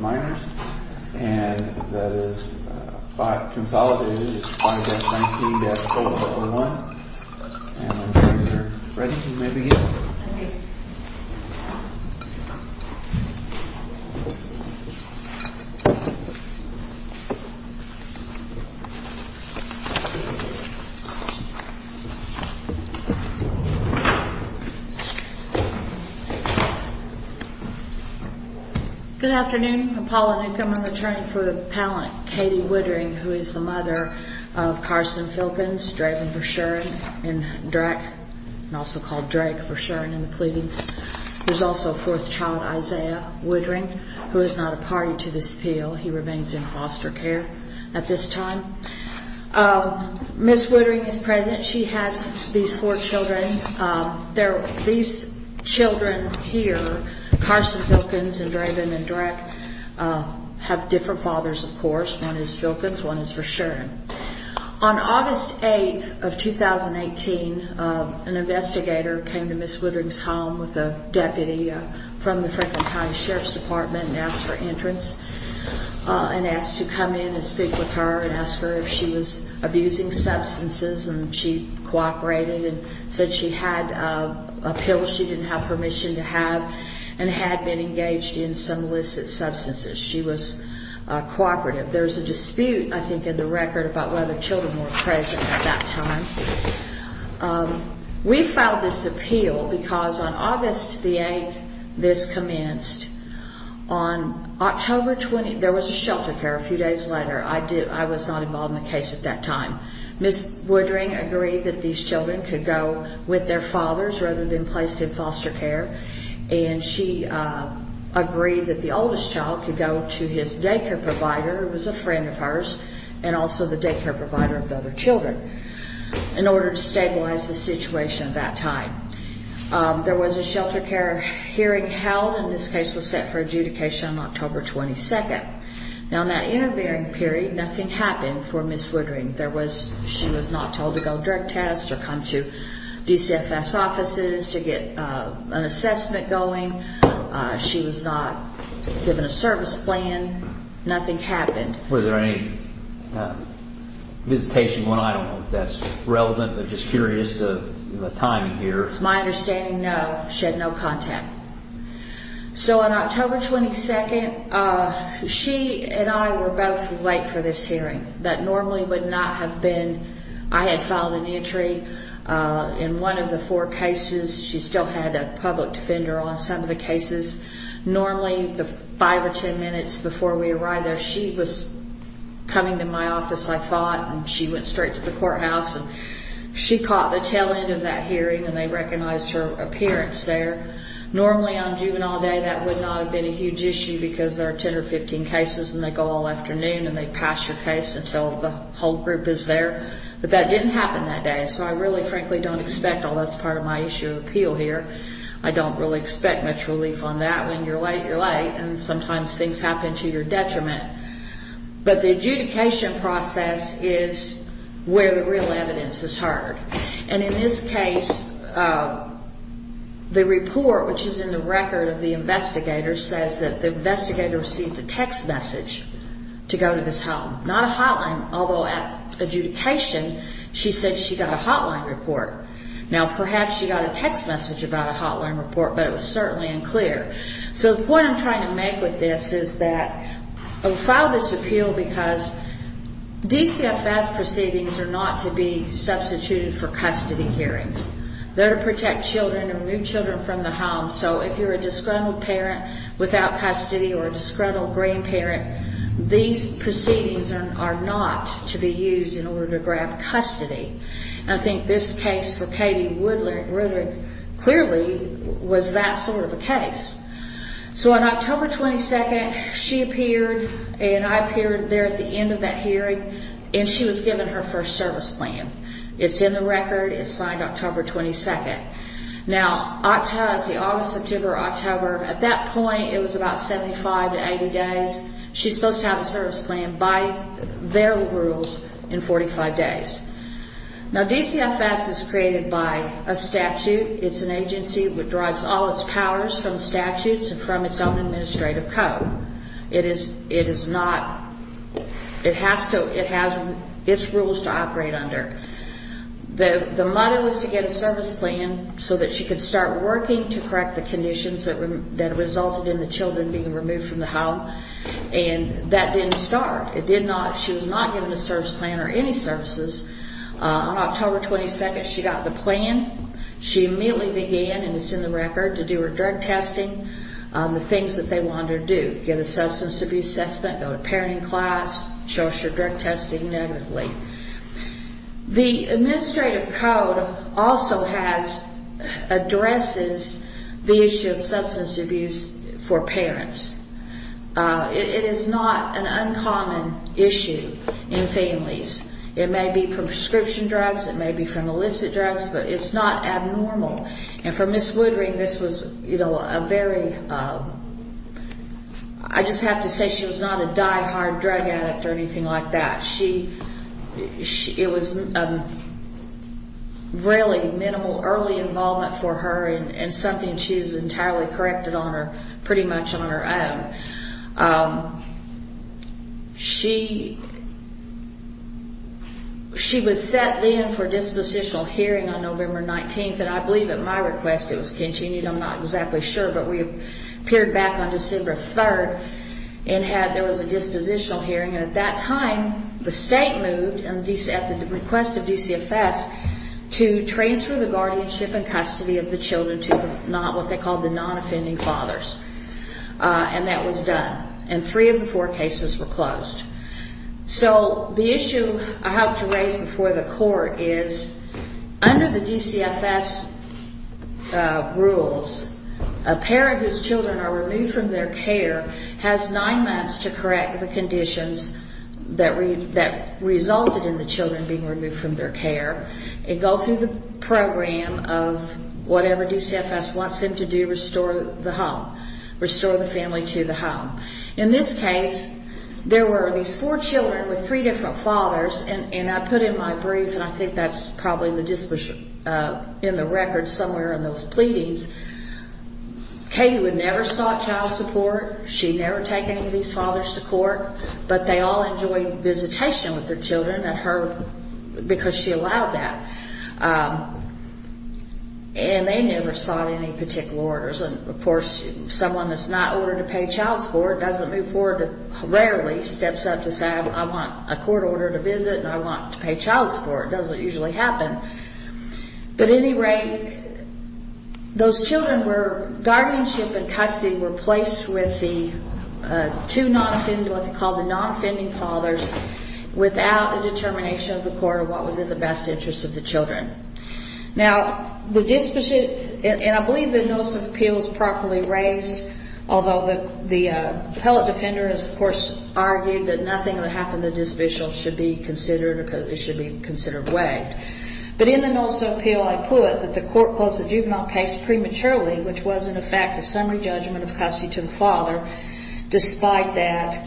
Minors, and that is 5, consolidated, 5-19-4-1, and when you are ready you may begin. Good afternoon. I'm Paula Newcomb. I'm attorney for the appellant Katie Woodring, who is the mother of Carson Filkins, Draven v. Shuren, & Drak, and also called Drake v. Shuren, & Clegans. There's also a fourth child, Isaiah Woodring, who is not a party to this appeal. He remains in foster care at this time. Ms. Woodring is present. She has these four children. These children here, Carson Filkins, & Draven, & Drak, have different fathers, of course. One is Filkins. One is for Shuren. On August 8th of 2018, an investigator came to Ms. Woodring's home with a deputy from the Franklin County Sheriff's Department and asked for entrance and asked to come in and speak with her and ask her if she was abusing substances, and she cooperated and said she had a pill she didn't have permission to have and had been engaged in some illicit substances. She was cooperative. There's a dispute, I think, in the record about whether children were present at that time. We filed this appeal because on August 8th, this commenced. On October 20th, there was a shelter care a few days later. I was not involved in the case at that time. Ms. Woodring agreed that these children could go with their fathers rather than placed in foster care, and she agreed that the oldest child could go to his daycare provider who was a friend of hers and also the daycare provider of the other children in order to stabilize the situation at that time. There was a shelter care hearing held, and this case was set for adjudication on October 22nd. Now, in that intervening period, nothing happened for Ms. Woodring. She was not told to go direct test or come to DCFS offices to get an assessment going. She was not given a service plan. Nothing happened. Were there any visitation? I don't know if that's relevant. I'm just curious of the timing here. It's my understanding, no. She had no contact. So, on October 22nd, she and I were both late for this hearing that normally would not have been. I had filed an entry in one of the four cases. She still had a public defender on some of the cases. Normally, the five or ten minutes before we arrived there, she was coming to my office, I thought, and she went straight to the courthouse. She caught the tail end of that hearing, and they recognized her appearance there. Normally, on juvenile day, that would not have been a huge issue because there are 10 or 15 cases, and they go all afternoon, and they pass your case until the whole group is there. But that didn't happen that day, so I really, frankly, don't expect, although that's part of my issue of appeal here, I don't really expect much relief on that. When you're late, you're late, and sometimes things happen to your detriment. But the adjudication process is where the real evidence is heard. And in this case, the report, which is in the record of the investigator, says that the investigator received a text message to go to this home. Not a hotline, although at adjudication, she said she got a hotline report. Now, perhaps she got a text message about a hotline report, but it was certainly unclear. So the point I'm trying to make with this is that I filed this appeal because DCFS proceedings are not to be substituted for custody hearings. They're to protect children and remove children from the home. So if you're a disgruntled parent without custody or a disgruntled grandparent, these proceedings are not to be used in order to grab custody. I think this case for Katie Woodard clearly was that sort of a case. So on October 22nd, she appeared and I appeared there at the end of that hearing, and she was given her first service plan. It's in the record. It's signed October 22nd. Now, October is the August, September, October. At that point, it was about 75 to 80 days. She's supposed to have a service plan by their rules in 45 days. Now, DCFS is created by a statute. It's an agency that derives all its powers from statutes and from its own administrative code. It has its rules to operate under. The model is to get a service plan so that she can start working to correct the conditions that resulted in the children being removed from the home. And that didn't start. It did not. She was not given a service plan or any services. On October 22nd, she got the plan. She immediately began, and it's in the record, to do her drug testing, the things that they wanted her to do, get a substance abuse assessment, go to parenting class, show us her drug testing, and everything. The administrative code also has, addresses the issue of substance abuse for parents. It is not an uncommon issue in families. It may be from prescription drugs. It may be from illicit drugs. But it's not abnormal. And for Ms. Woodring, this was a very, I just have to say she was not a diehard drug addict or anything like that. She, it was really minimal early involvement for her and something she's entirely corrected on her, pretty much on her own. She, she was set in for dispositional hearing on November 19th, and I believe at my request it was continued. I'm not exactly sure. But we appeared back on December 3rd and had, there was a dispositional hearing. And at that time, the state moved at the request of DCFS to transfer the guardianship and custody of the children to what they called the non-offending fathers. And that was done. And three of the four cases were closed. So the issue I have to raise before the court is under the DCFS rules, a parent whose children are removed from their care has nine months to correct the conditions that resulted in the children being removed from their care and go through the program of whatever DCFS wants them to do to restore the home, restore the family to the home. In this case, there were these four children with three different fathers, and I put in my brief, and I think that's probably in the record somewhere in those pleadings. Katie would never sought child support. She'd never taken any of these fathers to court. But they all enjoyed visitation with their children at her, because she allowed that. And they never sought any particular orders. And, of course, someone that's not ordered to pay child support doesn't move forward, rarely steps up to say, I want a court order to visit and I want to pay child support. It doesn't usually happen. But at any rate, those children were, guardianship and custody were placed with the two non-offending, what they called the non-offending fathers without a determination of the court of what was in the best interest of the children. Now, the disposition, and I believe the notice of appeal is properly raised, although the appellate defender has, of course, argued that nothing that happened to the dispositional should be considered, it should be considered waived. But in the notice of appeal, I put that the court closed the juvenile case prematurely, which was, in effect, a summary judgment of custody to the father. Despite that,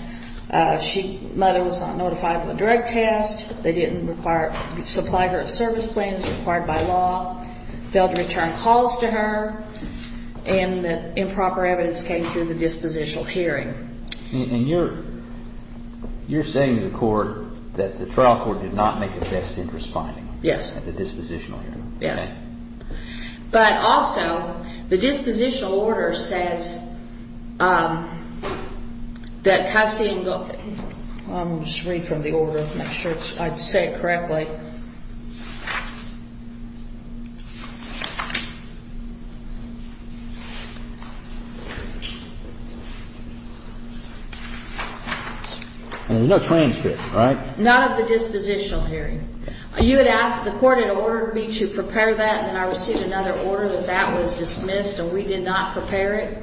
mother was not notified of a drug test. They didn't supply her with service plans required by law, failed to return calls to her, and improper evidence came through the dispositional hearing. And you're saying to the court that the trial court did not make a best interest finding? Yes. At the dispositional hearing? Yes. But also, the dispositional order says that custody and, I'll just read from the order to make sure I say it correctly. There's no transcript, right? None of the dispositional hearing. You had asked, the court had ordered me to prepare that, and I received another order that that was dismissed, and we did not prepare it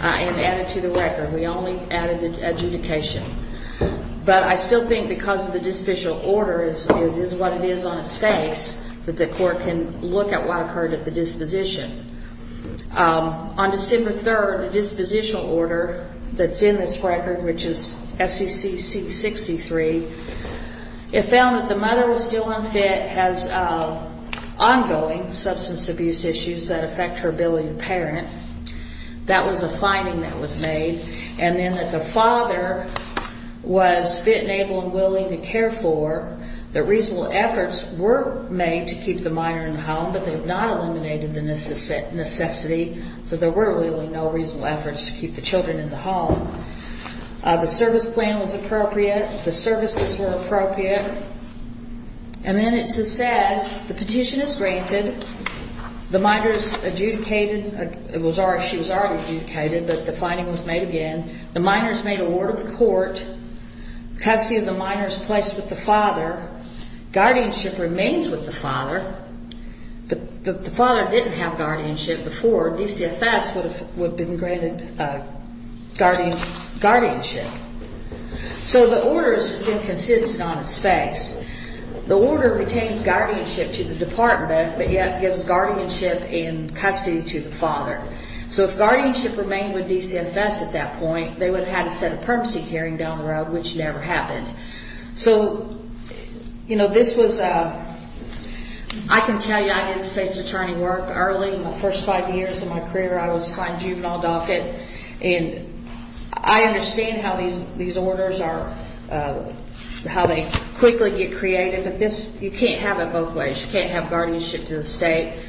and add it to the record. We only added the adjudication. But I still think because of the dispositional order is what it is on its face, that the court can look at what occurred at the disposition. On December 3rd, the dispositional order that's in this record, which is SECC 63, it found that the mother was still unfit, has ongoing substance abuse issues that affect her ability to parent. That was a finding that was made. And then that the father was fit and able and willing to care for. That reasonable efforts were made to keep the minor in the home, but they have not eliminated the necessity, so there were really no reasonable efforts to keep the children in the home. The service plan was appropriate. The services were appropriate. And then it says the petition is granted. The minor is adjudicated. She was already adjudicated, but the finding was made again. The minor is made award of the court. Custody of the minor is placed with the father. Guardianship remains with the father, but the father didn't have guardianship before. DCFS would have been granted guardianship. So the order is still consistent on its face. The order retains guardianship to the department, but yet gives guardianship in custody to the father. So if guardianship remained with DCFS at that point, they would have had a set of permanency carrying down the road, which never happened. I can tell you I did a state's attorney work early. My first five years of my career, I was signed juvenile docket. I understand how these orders are, how they quickly get created, but you can't have it both ways. You can't have guardianship to the state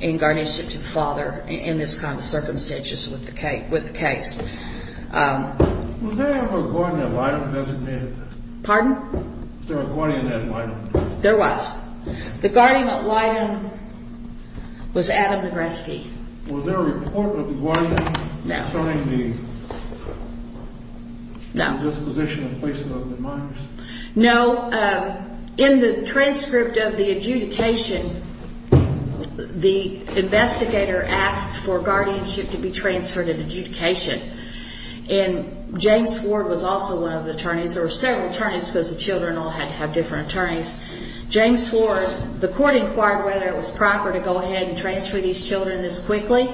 and guardianship to the father in this kind of circumstances with the case. Was there a guardian at Lydon designated? Pardon? There was. The guardian at Lydon was Adam Negreski. Was there a report of the guardian concerning the disposition and placement of the minors? No. In the transcript of the adjudication, the investigator asked for guardianship to be transferred at adjudication. And James Ford was also one of the attorneys. There were several attorneys because the children all had to have different attorneys. James Ford, the court inquired whether it was proper to go ahead and transfer these children this quickly.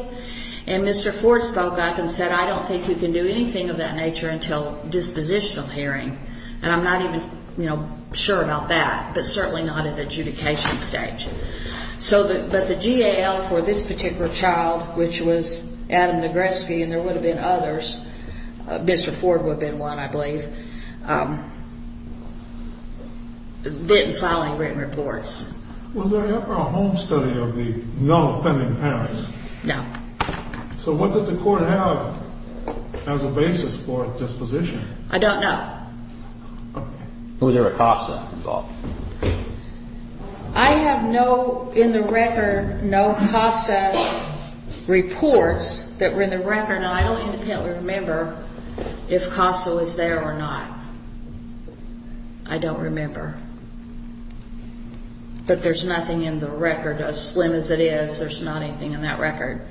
And Mr. Ford spoke up and said, I don't think you can do anything of that nature until dispositional hearing. And I'm not even sure about that, but certainly not at the adjudication stage. But the GAL for this particular child, which was Adam Negreski, and there would have been others, Mr. Ford would have been one, I believe, didn't file any written reports. Was there ever a home study of the non-offending parents? No. So what did the court have as a basis for disposition? I don't know. Was there a CASA involved? I have no, in the record, no CASA reports that were in the record, and I don't independently remember if CASA was there or not. I don't remember. But there's nothing in the record, as slim as it is, there's not anything in that record.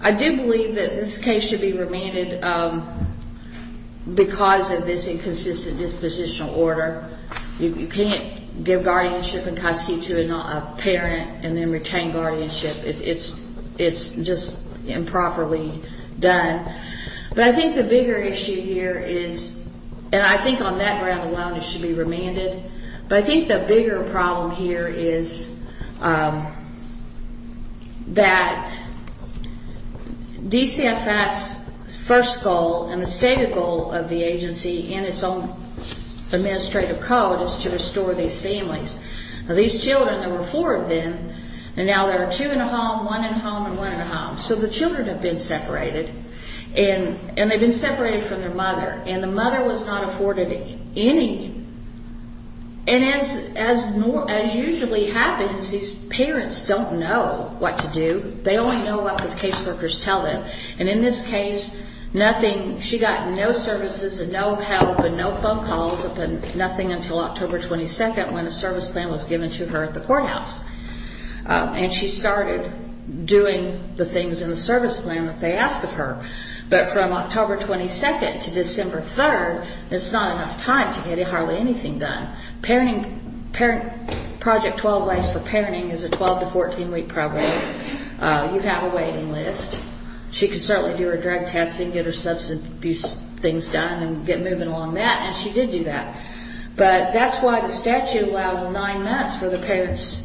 I do believe that this case should be remanded because of this inconsistent dispositional order. You can't give guardianship and custody to a parent and then retain guardianship. It's just improperly done. But I think the bigger issue here is, and I think on that ground alone it should be remanded, but I think the bigger problem here is that DCFS' first goal and the stated goal of the agency in its own administrative code is to restore these families. These children, there were four of them, and now there are two in a home, one in a home, and one in a home. So the children have been separated, and they've been separated from their mother, and the mother was not afforded any. And as usually happens, these parents don't know what to do. They only know what the caseworkers tell them. And in this case, nothing, she got no services and no help and no phone calls, nothing until October 22nd when a service plan was given to her at the courthouse. And she started doing the things in the service plan that they asked of her. But from October 22nd to December 3rd, it's not enough time to get hardly anything done. Parenting, Project 12 Ways for Parenting is a 12 to 14-week program. You have a waiting list. She could certainly do her drug testing, get her substance abuse things done and get moving along that, and she did do that. But that's why the statute allows the nine months for the parents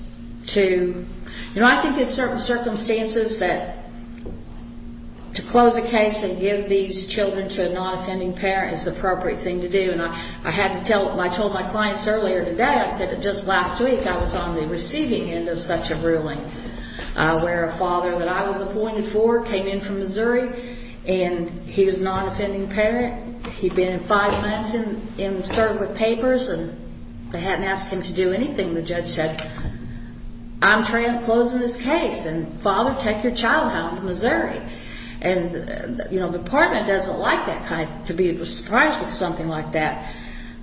to, you know, I think in certain circumstances that to close a case and give these children to a non-offending parent is the appropriate thing to do. And I had to tell, I told my clients earlier today, I said that just last week, I was on the receiving end of such a ruling where a father that I was appointed for came in from Missouri and he was a non-offending parent. He'd been in five months and served with papers, and they hadn't asked him to do anything. The judge said, I'm trying to close this case, and father, take your child now to Missouri. And, you know, the department doesn't like that kind of, to be surprised with something like that.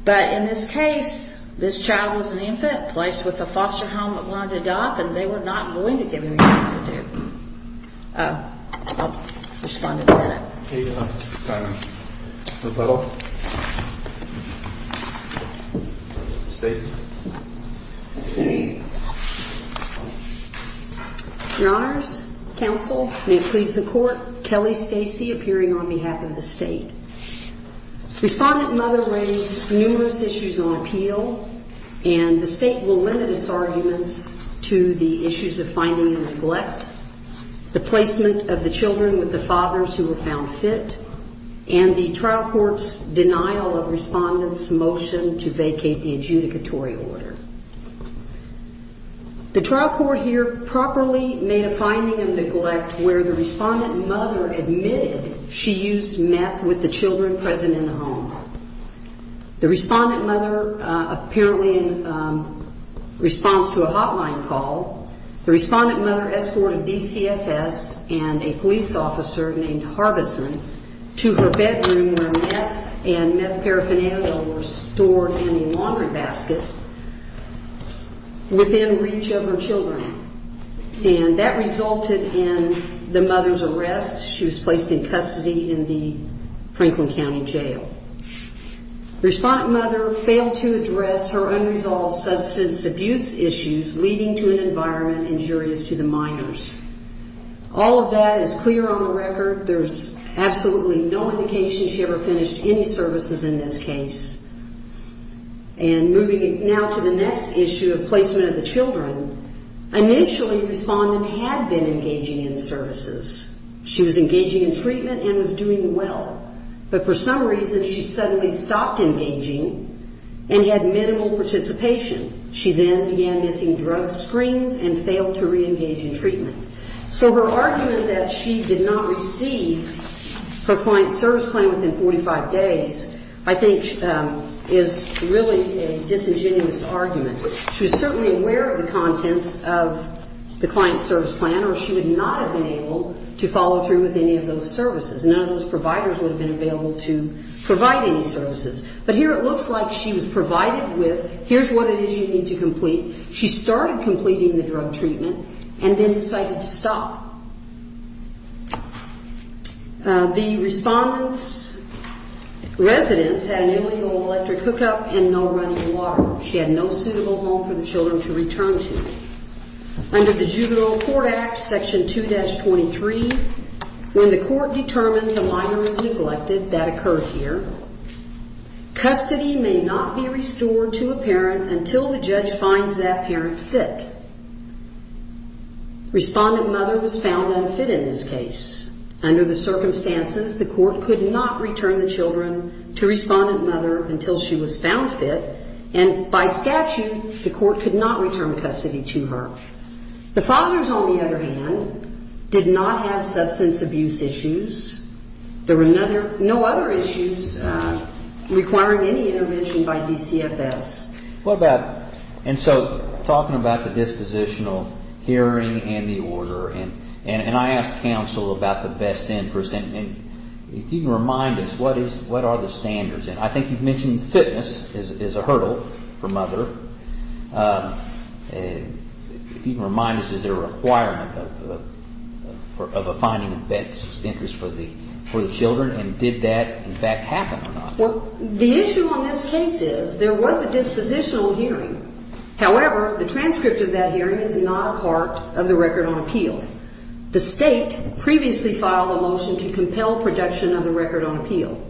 But in this case, this child was an infant placed with a foster home at Ronda Dock, and they were not going to give him anything to do. I'll respond to that. Your Honors, counsel, may it please the Court, Kelly Stacey appearing on behalf of the State. Respondent Mother raised numerous issues on appeal, and the State will limit its arguments to the issues of finding and neglect, the placement of the children with the fathers who were found fit, and the trial court's denial of Respondent's motion to vacate the adjudicatory order. The trial court here properly made a finding of neglect where the Respondent Mother admitted she used meth with the children present in the home. The Respondent Mother, apparently in response to a hotline call, the Respondent Mother escorted DCFS and a police officer named Harbison to her bedroom where meth and meth paraphernalia were stored in a laundry basket within reach of her children. And that resulted in the mother's arrest. She was placed in custody in the Franklin County Jail. Respondent Mother failed to address her unresolved substance abuse issues leading to an environment injurious to the minors. All of that is clear on the record. There's absolutely no indication she ever finished any services in this case. And moving now to the next issue of placement of the children, initially Respondent had been engaging in services. She was engaging in treatment and was doing well, but for some reason she suddenly stopped engaging and had minimal participation. She then began missing drug screens and failed to reengage in treatment. So her argument that she did not receive her client's service plan within 45 days, I think, is really a disingenuous argument. She was certainly aware of the contents of the client's service plan, or she would not have been able to follow through with any of those services. None of those providers would have been available to provide any services. But here it looks like she was provided with, here's what it is you need to complete. She started completing the drug treatment and then decided to stop. The Respondent's residence had an illegal electric hookup and no running water. She had no suitable home for the children to return to. Under the Juvenile Court Act, Section 2-23, when the court determines a minor is neglected, that occurred here, custody may not be restored to a parent until the judge finds that parent fit. Respondent mother was found unfit in this case. Under the circumstances, the court could not return the children to respondent mother until she was found fit, and by statute, the court could not return custody to her. The fathers, on the other hand, did not have substance abuse issues. There were no other issues requiring any intervention by DCFS. What about, and so talking about the dispositional hearing and the order, and I asked counsel about the best interest, and if you can remind us, what are the standards? And I think you've mentioned fitness is a hurdle for mother. If you can remind us, is there a requirement of a finding of best interest for the children, and did that, in fact, happen or not? Well, the issue on this case is there was a dispositional hearing. However, the transcript of that hearing is not a part of the record on appeal. The State previously filed a motion to compel production of the record on appeal.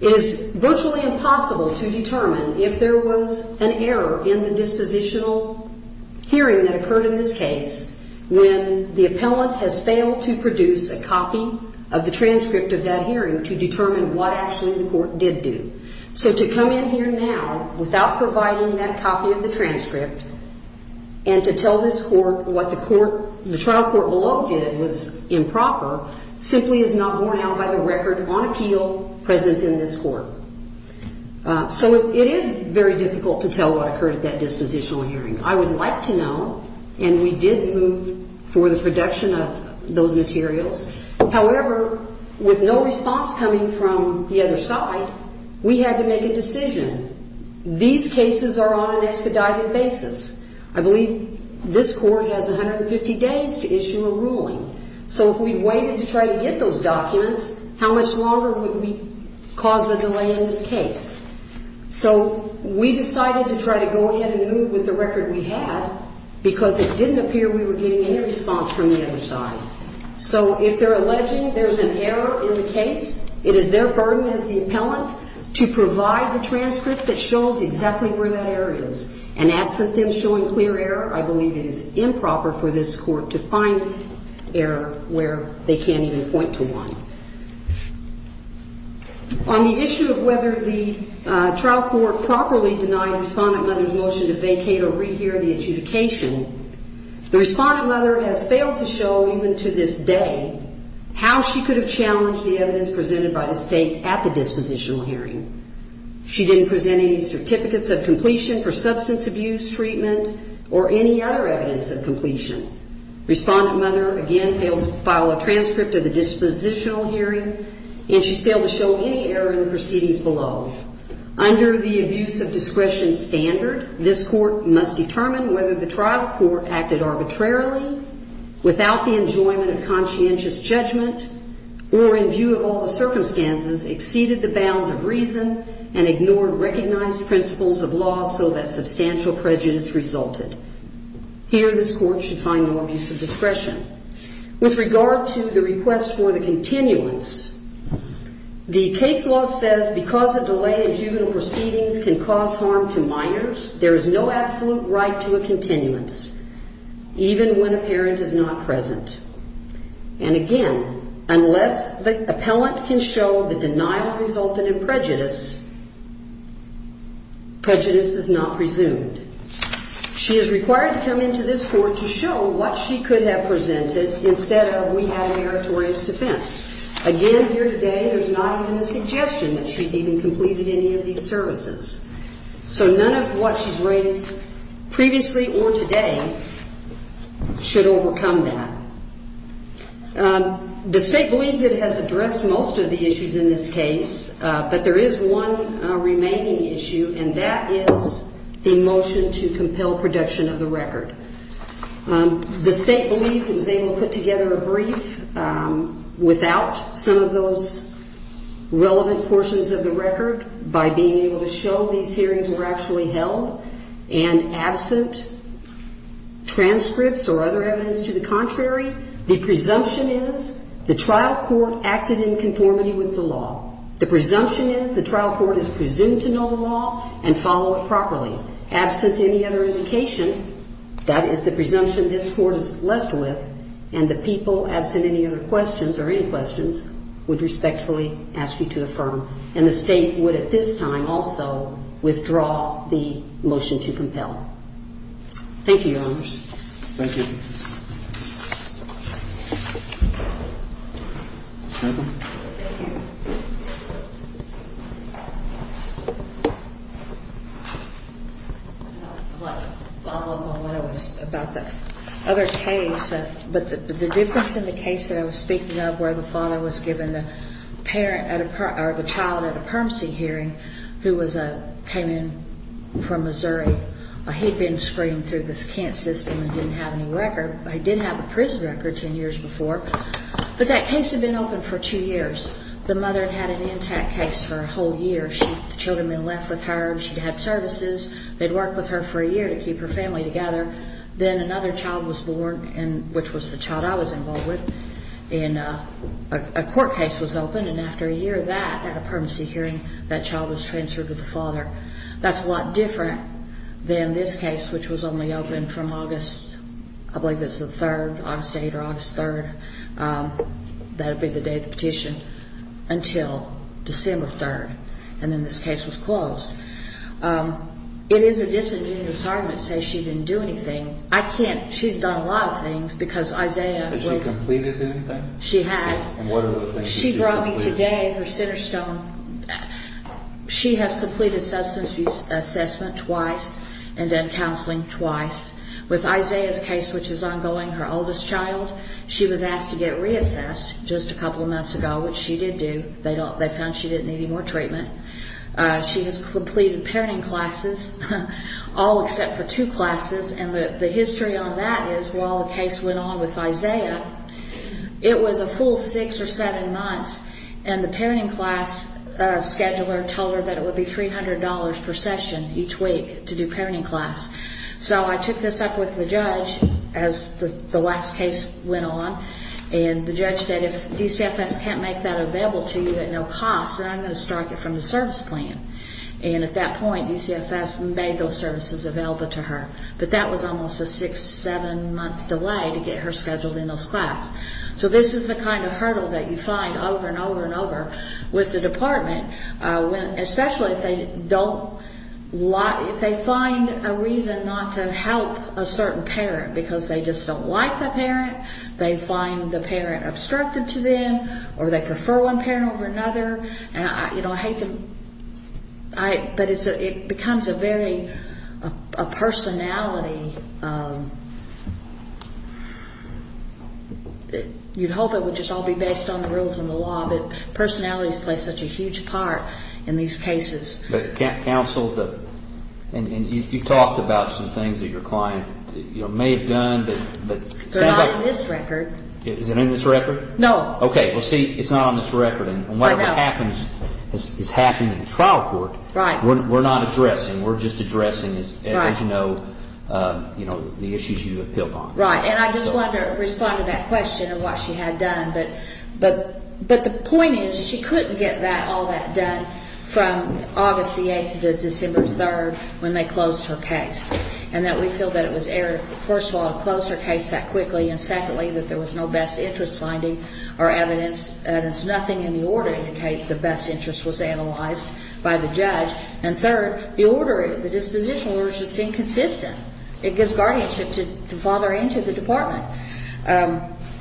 It is virtually impossible to determine if there was an error in the dispositional hearing that occurred in this case when the appellant has failed to produce a copy of the transcript of that hearing to determine what actually the court did do. So to come in here now without providing that copy of the transcript and to tell this court what the trial court below did was improper simply is not borne out by the record on appeal present in this court. So it is very difficult to tell what occurred at that dispositional hearing. I would like to know, and we did move for the production of those materials. However, with no response coming from the other side, we had to make a decision. These cases are on an expedited basis. So if we waited to try to get those documents, how much longer would we cause a delay in this case? So we decided to try to go ahead and move with the record we had because it didn't appear we were getting any response from the other side. So if they're alleging there's an error in the case, it is their burden as the appellant to provide the transcript that shows exactly where that error is. And absent them showing clear error, I believe it is improper for this court to find error where they can't even point to one. On the issue of whether the trial court properly denied the respondent mother's motion to vacate or rehear the adjudication, the respondent mother has failed to show, even to this day, how she could have challenged the evidence presented by the State at the dispositional hearing. She didn't present any certificates of completion for substance abuse treatment or any other evidence of completion. Respondent mother, again, failed to file a transcript of the dispositional hearing, and she's failed to show any error in the proceedings below. Under the abuse of discretion standard, this court must determine whether the trial court acted arbitrarily, without the enjoyment of conscientious judgment, or in view of all the circumstances, exceeded the bounds of reason and ignored recognized principles of law so that substantial prejudice resulted. Here, this court should find no abuse of discretion. With regard to the request for the continuance, the case law says, because a delay in juvenile proceedings can cause harm to minors, there is no absolute right to a continuance, even when a parent is not present. And again, unless the appellant can show the denial resulted in prejudice, prejudice is not presumed. She is required to come into this court to show what she could have presented instead of we have a meritorious defense. Again, here today, there's not even a suggestion that she's even completed any of these services. So none of what she's raised previously or today should overcome that. The state believes it has addressed most of the issues in this case, but there is one remaining issue, and that is the motion to compel production of the record. The state believes it was able to put together a brief without some of those relevant portions of the record by being able to show these hearings were actually held and absent transcripts or other evidence to the contrary. The presumption is the trial court acted in conformity with the law. The presumption is the trial court is presumed to know the law and follow it properly. Absent any other indication, that is the presumption this court is left with, and the people, absent any other questions or any questions, would respectfully ask you to affirm. And the state would at this time also withdraw the motion to compel. Thank you, Your Honors. Thank you. I'd like to follow up on what I was about the other case, but the difference in the case that I was speaking of where the father was given the parent or the child at a permanency hearing who came in from Missouri. He'd been screened through the Kent system and didn't have any record. He did have a prison record ten years before, but that case had been open for two years. The mother had had an intact case for a whole year. The children had been left with her. She'd had services. They'd worked with her for a year to keep her family together. Then another child was born, which was the child I was involved with, and a court case was open, and after a year of that, at a permanency hearing, that child was transferred with the father. That's a lot different than this case, which was only open from August, I believe it's the third, August 8th or August 3rd. That would be the day of the petition until December 3rd, and then this case was closed. It is a disingenuous argument to say she didn't do anything. I can't. She's done a lot of things because Isaiah was— Has she completed anything? She has. What are the things she's completed? She brought me today her cinder stone. She has completed substance abuse assessment twice and done counseling twice. With Isaiah's case, which is ongoing, her oldest child, she was asked to get reassessed just a couple of months ago, which she did do. They found she didn't need any more treatment. She has completed parenting classes, all except for two classes, and the history on that is while the case went on with Isaiah, it was a full six or seven months, and the parenting class scheduler told her that it would be $300 per session each week to do parenting class. So I took this up with the judge as the last case went on, and the judge said if DCFS can't make that available to you at no cost, then I'm going to strike it from the service plan. And at that point, DCFS may go services available to her, but that was almost a six, seven-month delay to get her scheduled in those classes. So this is the kind of hurdle that you find over and over and over with the department, especially if they don't—if they find a reason not to help a certain parent because they just don't like the parent, they find the parent obstructive to them, or they prefer one parent over another. You know, I hate to—but it becomes a very—a personality. You'd hope it would just all be based on the rules and the law, but personalities play such a huge part in these cases. But counsel, you've talked about some things that your client may have done, but— They're not in this record. Is it in this record? No. Okay, well, see, it's not on this record, and whatever happens is happening in the trial court. Right. We're not addressing. We're just addressing, as you know, the issues you have built on. Right. And I just wanted to respond to that question of what she had done. But the point is she couldn't get all that done from August the 8th to December 3rd when they closed her case, and that we feel that it was error, first of all, and secondly, that there was no best interest finding or evidence, and it's nothing in the order to indicate the best interest was analyzed by the judge. And third, the order, the dispositional order is just inconsistent. It gives guardianship to the father and to the department.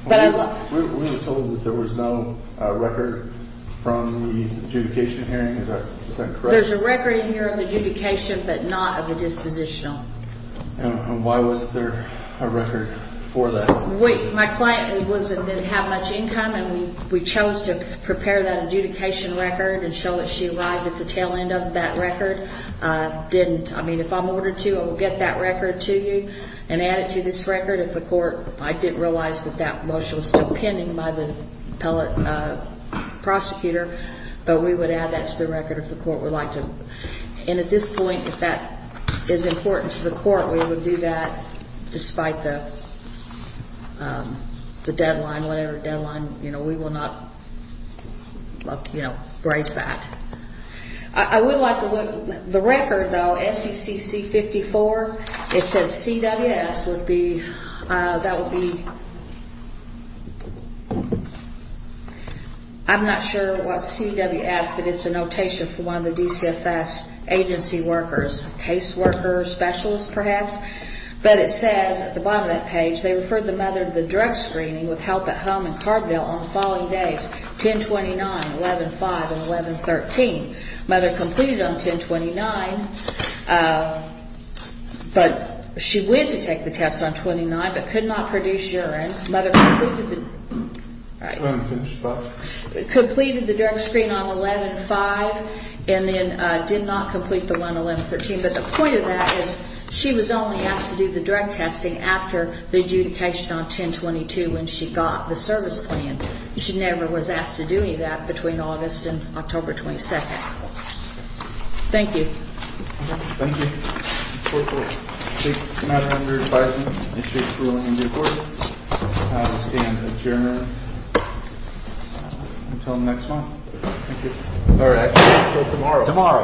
We were told that there was no record from the adjudication hearing. Is that correct? There's a record in here of the adjudication, but not of the dispositional. And why was there a record for that? My client didn't have much income, and we chose to prepare that adjudication record and show that she arrived at the tail end of that record. I didn't. I mean, if I'm ordered to, I will get that record to you and add it to this record. If the court, I didn't realize that that motion was still pending by the prosecutor, but we would add that to the record if the court would like to. And at this point, if that is important to the court, we would do that despite the deadline, whatever deadline. You know, we will not, you know, brace that. I would like to look at the record, though. SECC 54, it says CWS would be, that would be, I'm not sure what CWS, but it's a notation for one of the DCFS agency workers, case worker, specialist perhaps. But it says at the bottom of that page, they referred the mother to the direct screening with help at home in Carbondale on the following days, 10-29, 11-5, and 11-13. Mother completed on 10-29, but she went to take the test on 29, but could not produce urine. Completed the direct screen on 11-5, and then did not complete the one on 11-13. But the point of that is she was only asked to do the direct testing after the adjudication on 10-22 when she got the service plan. She never was asked to do any of that between August and October 22nd. Thank you. Thank you. The court will take the matter under advisement and issue a ruling in due course. The time to stand is adjourned until next month. Thank you. All right. Until tomorrow. Tomorrow.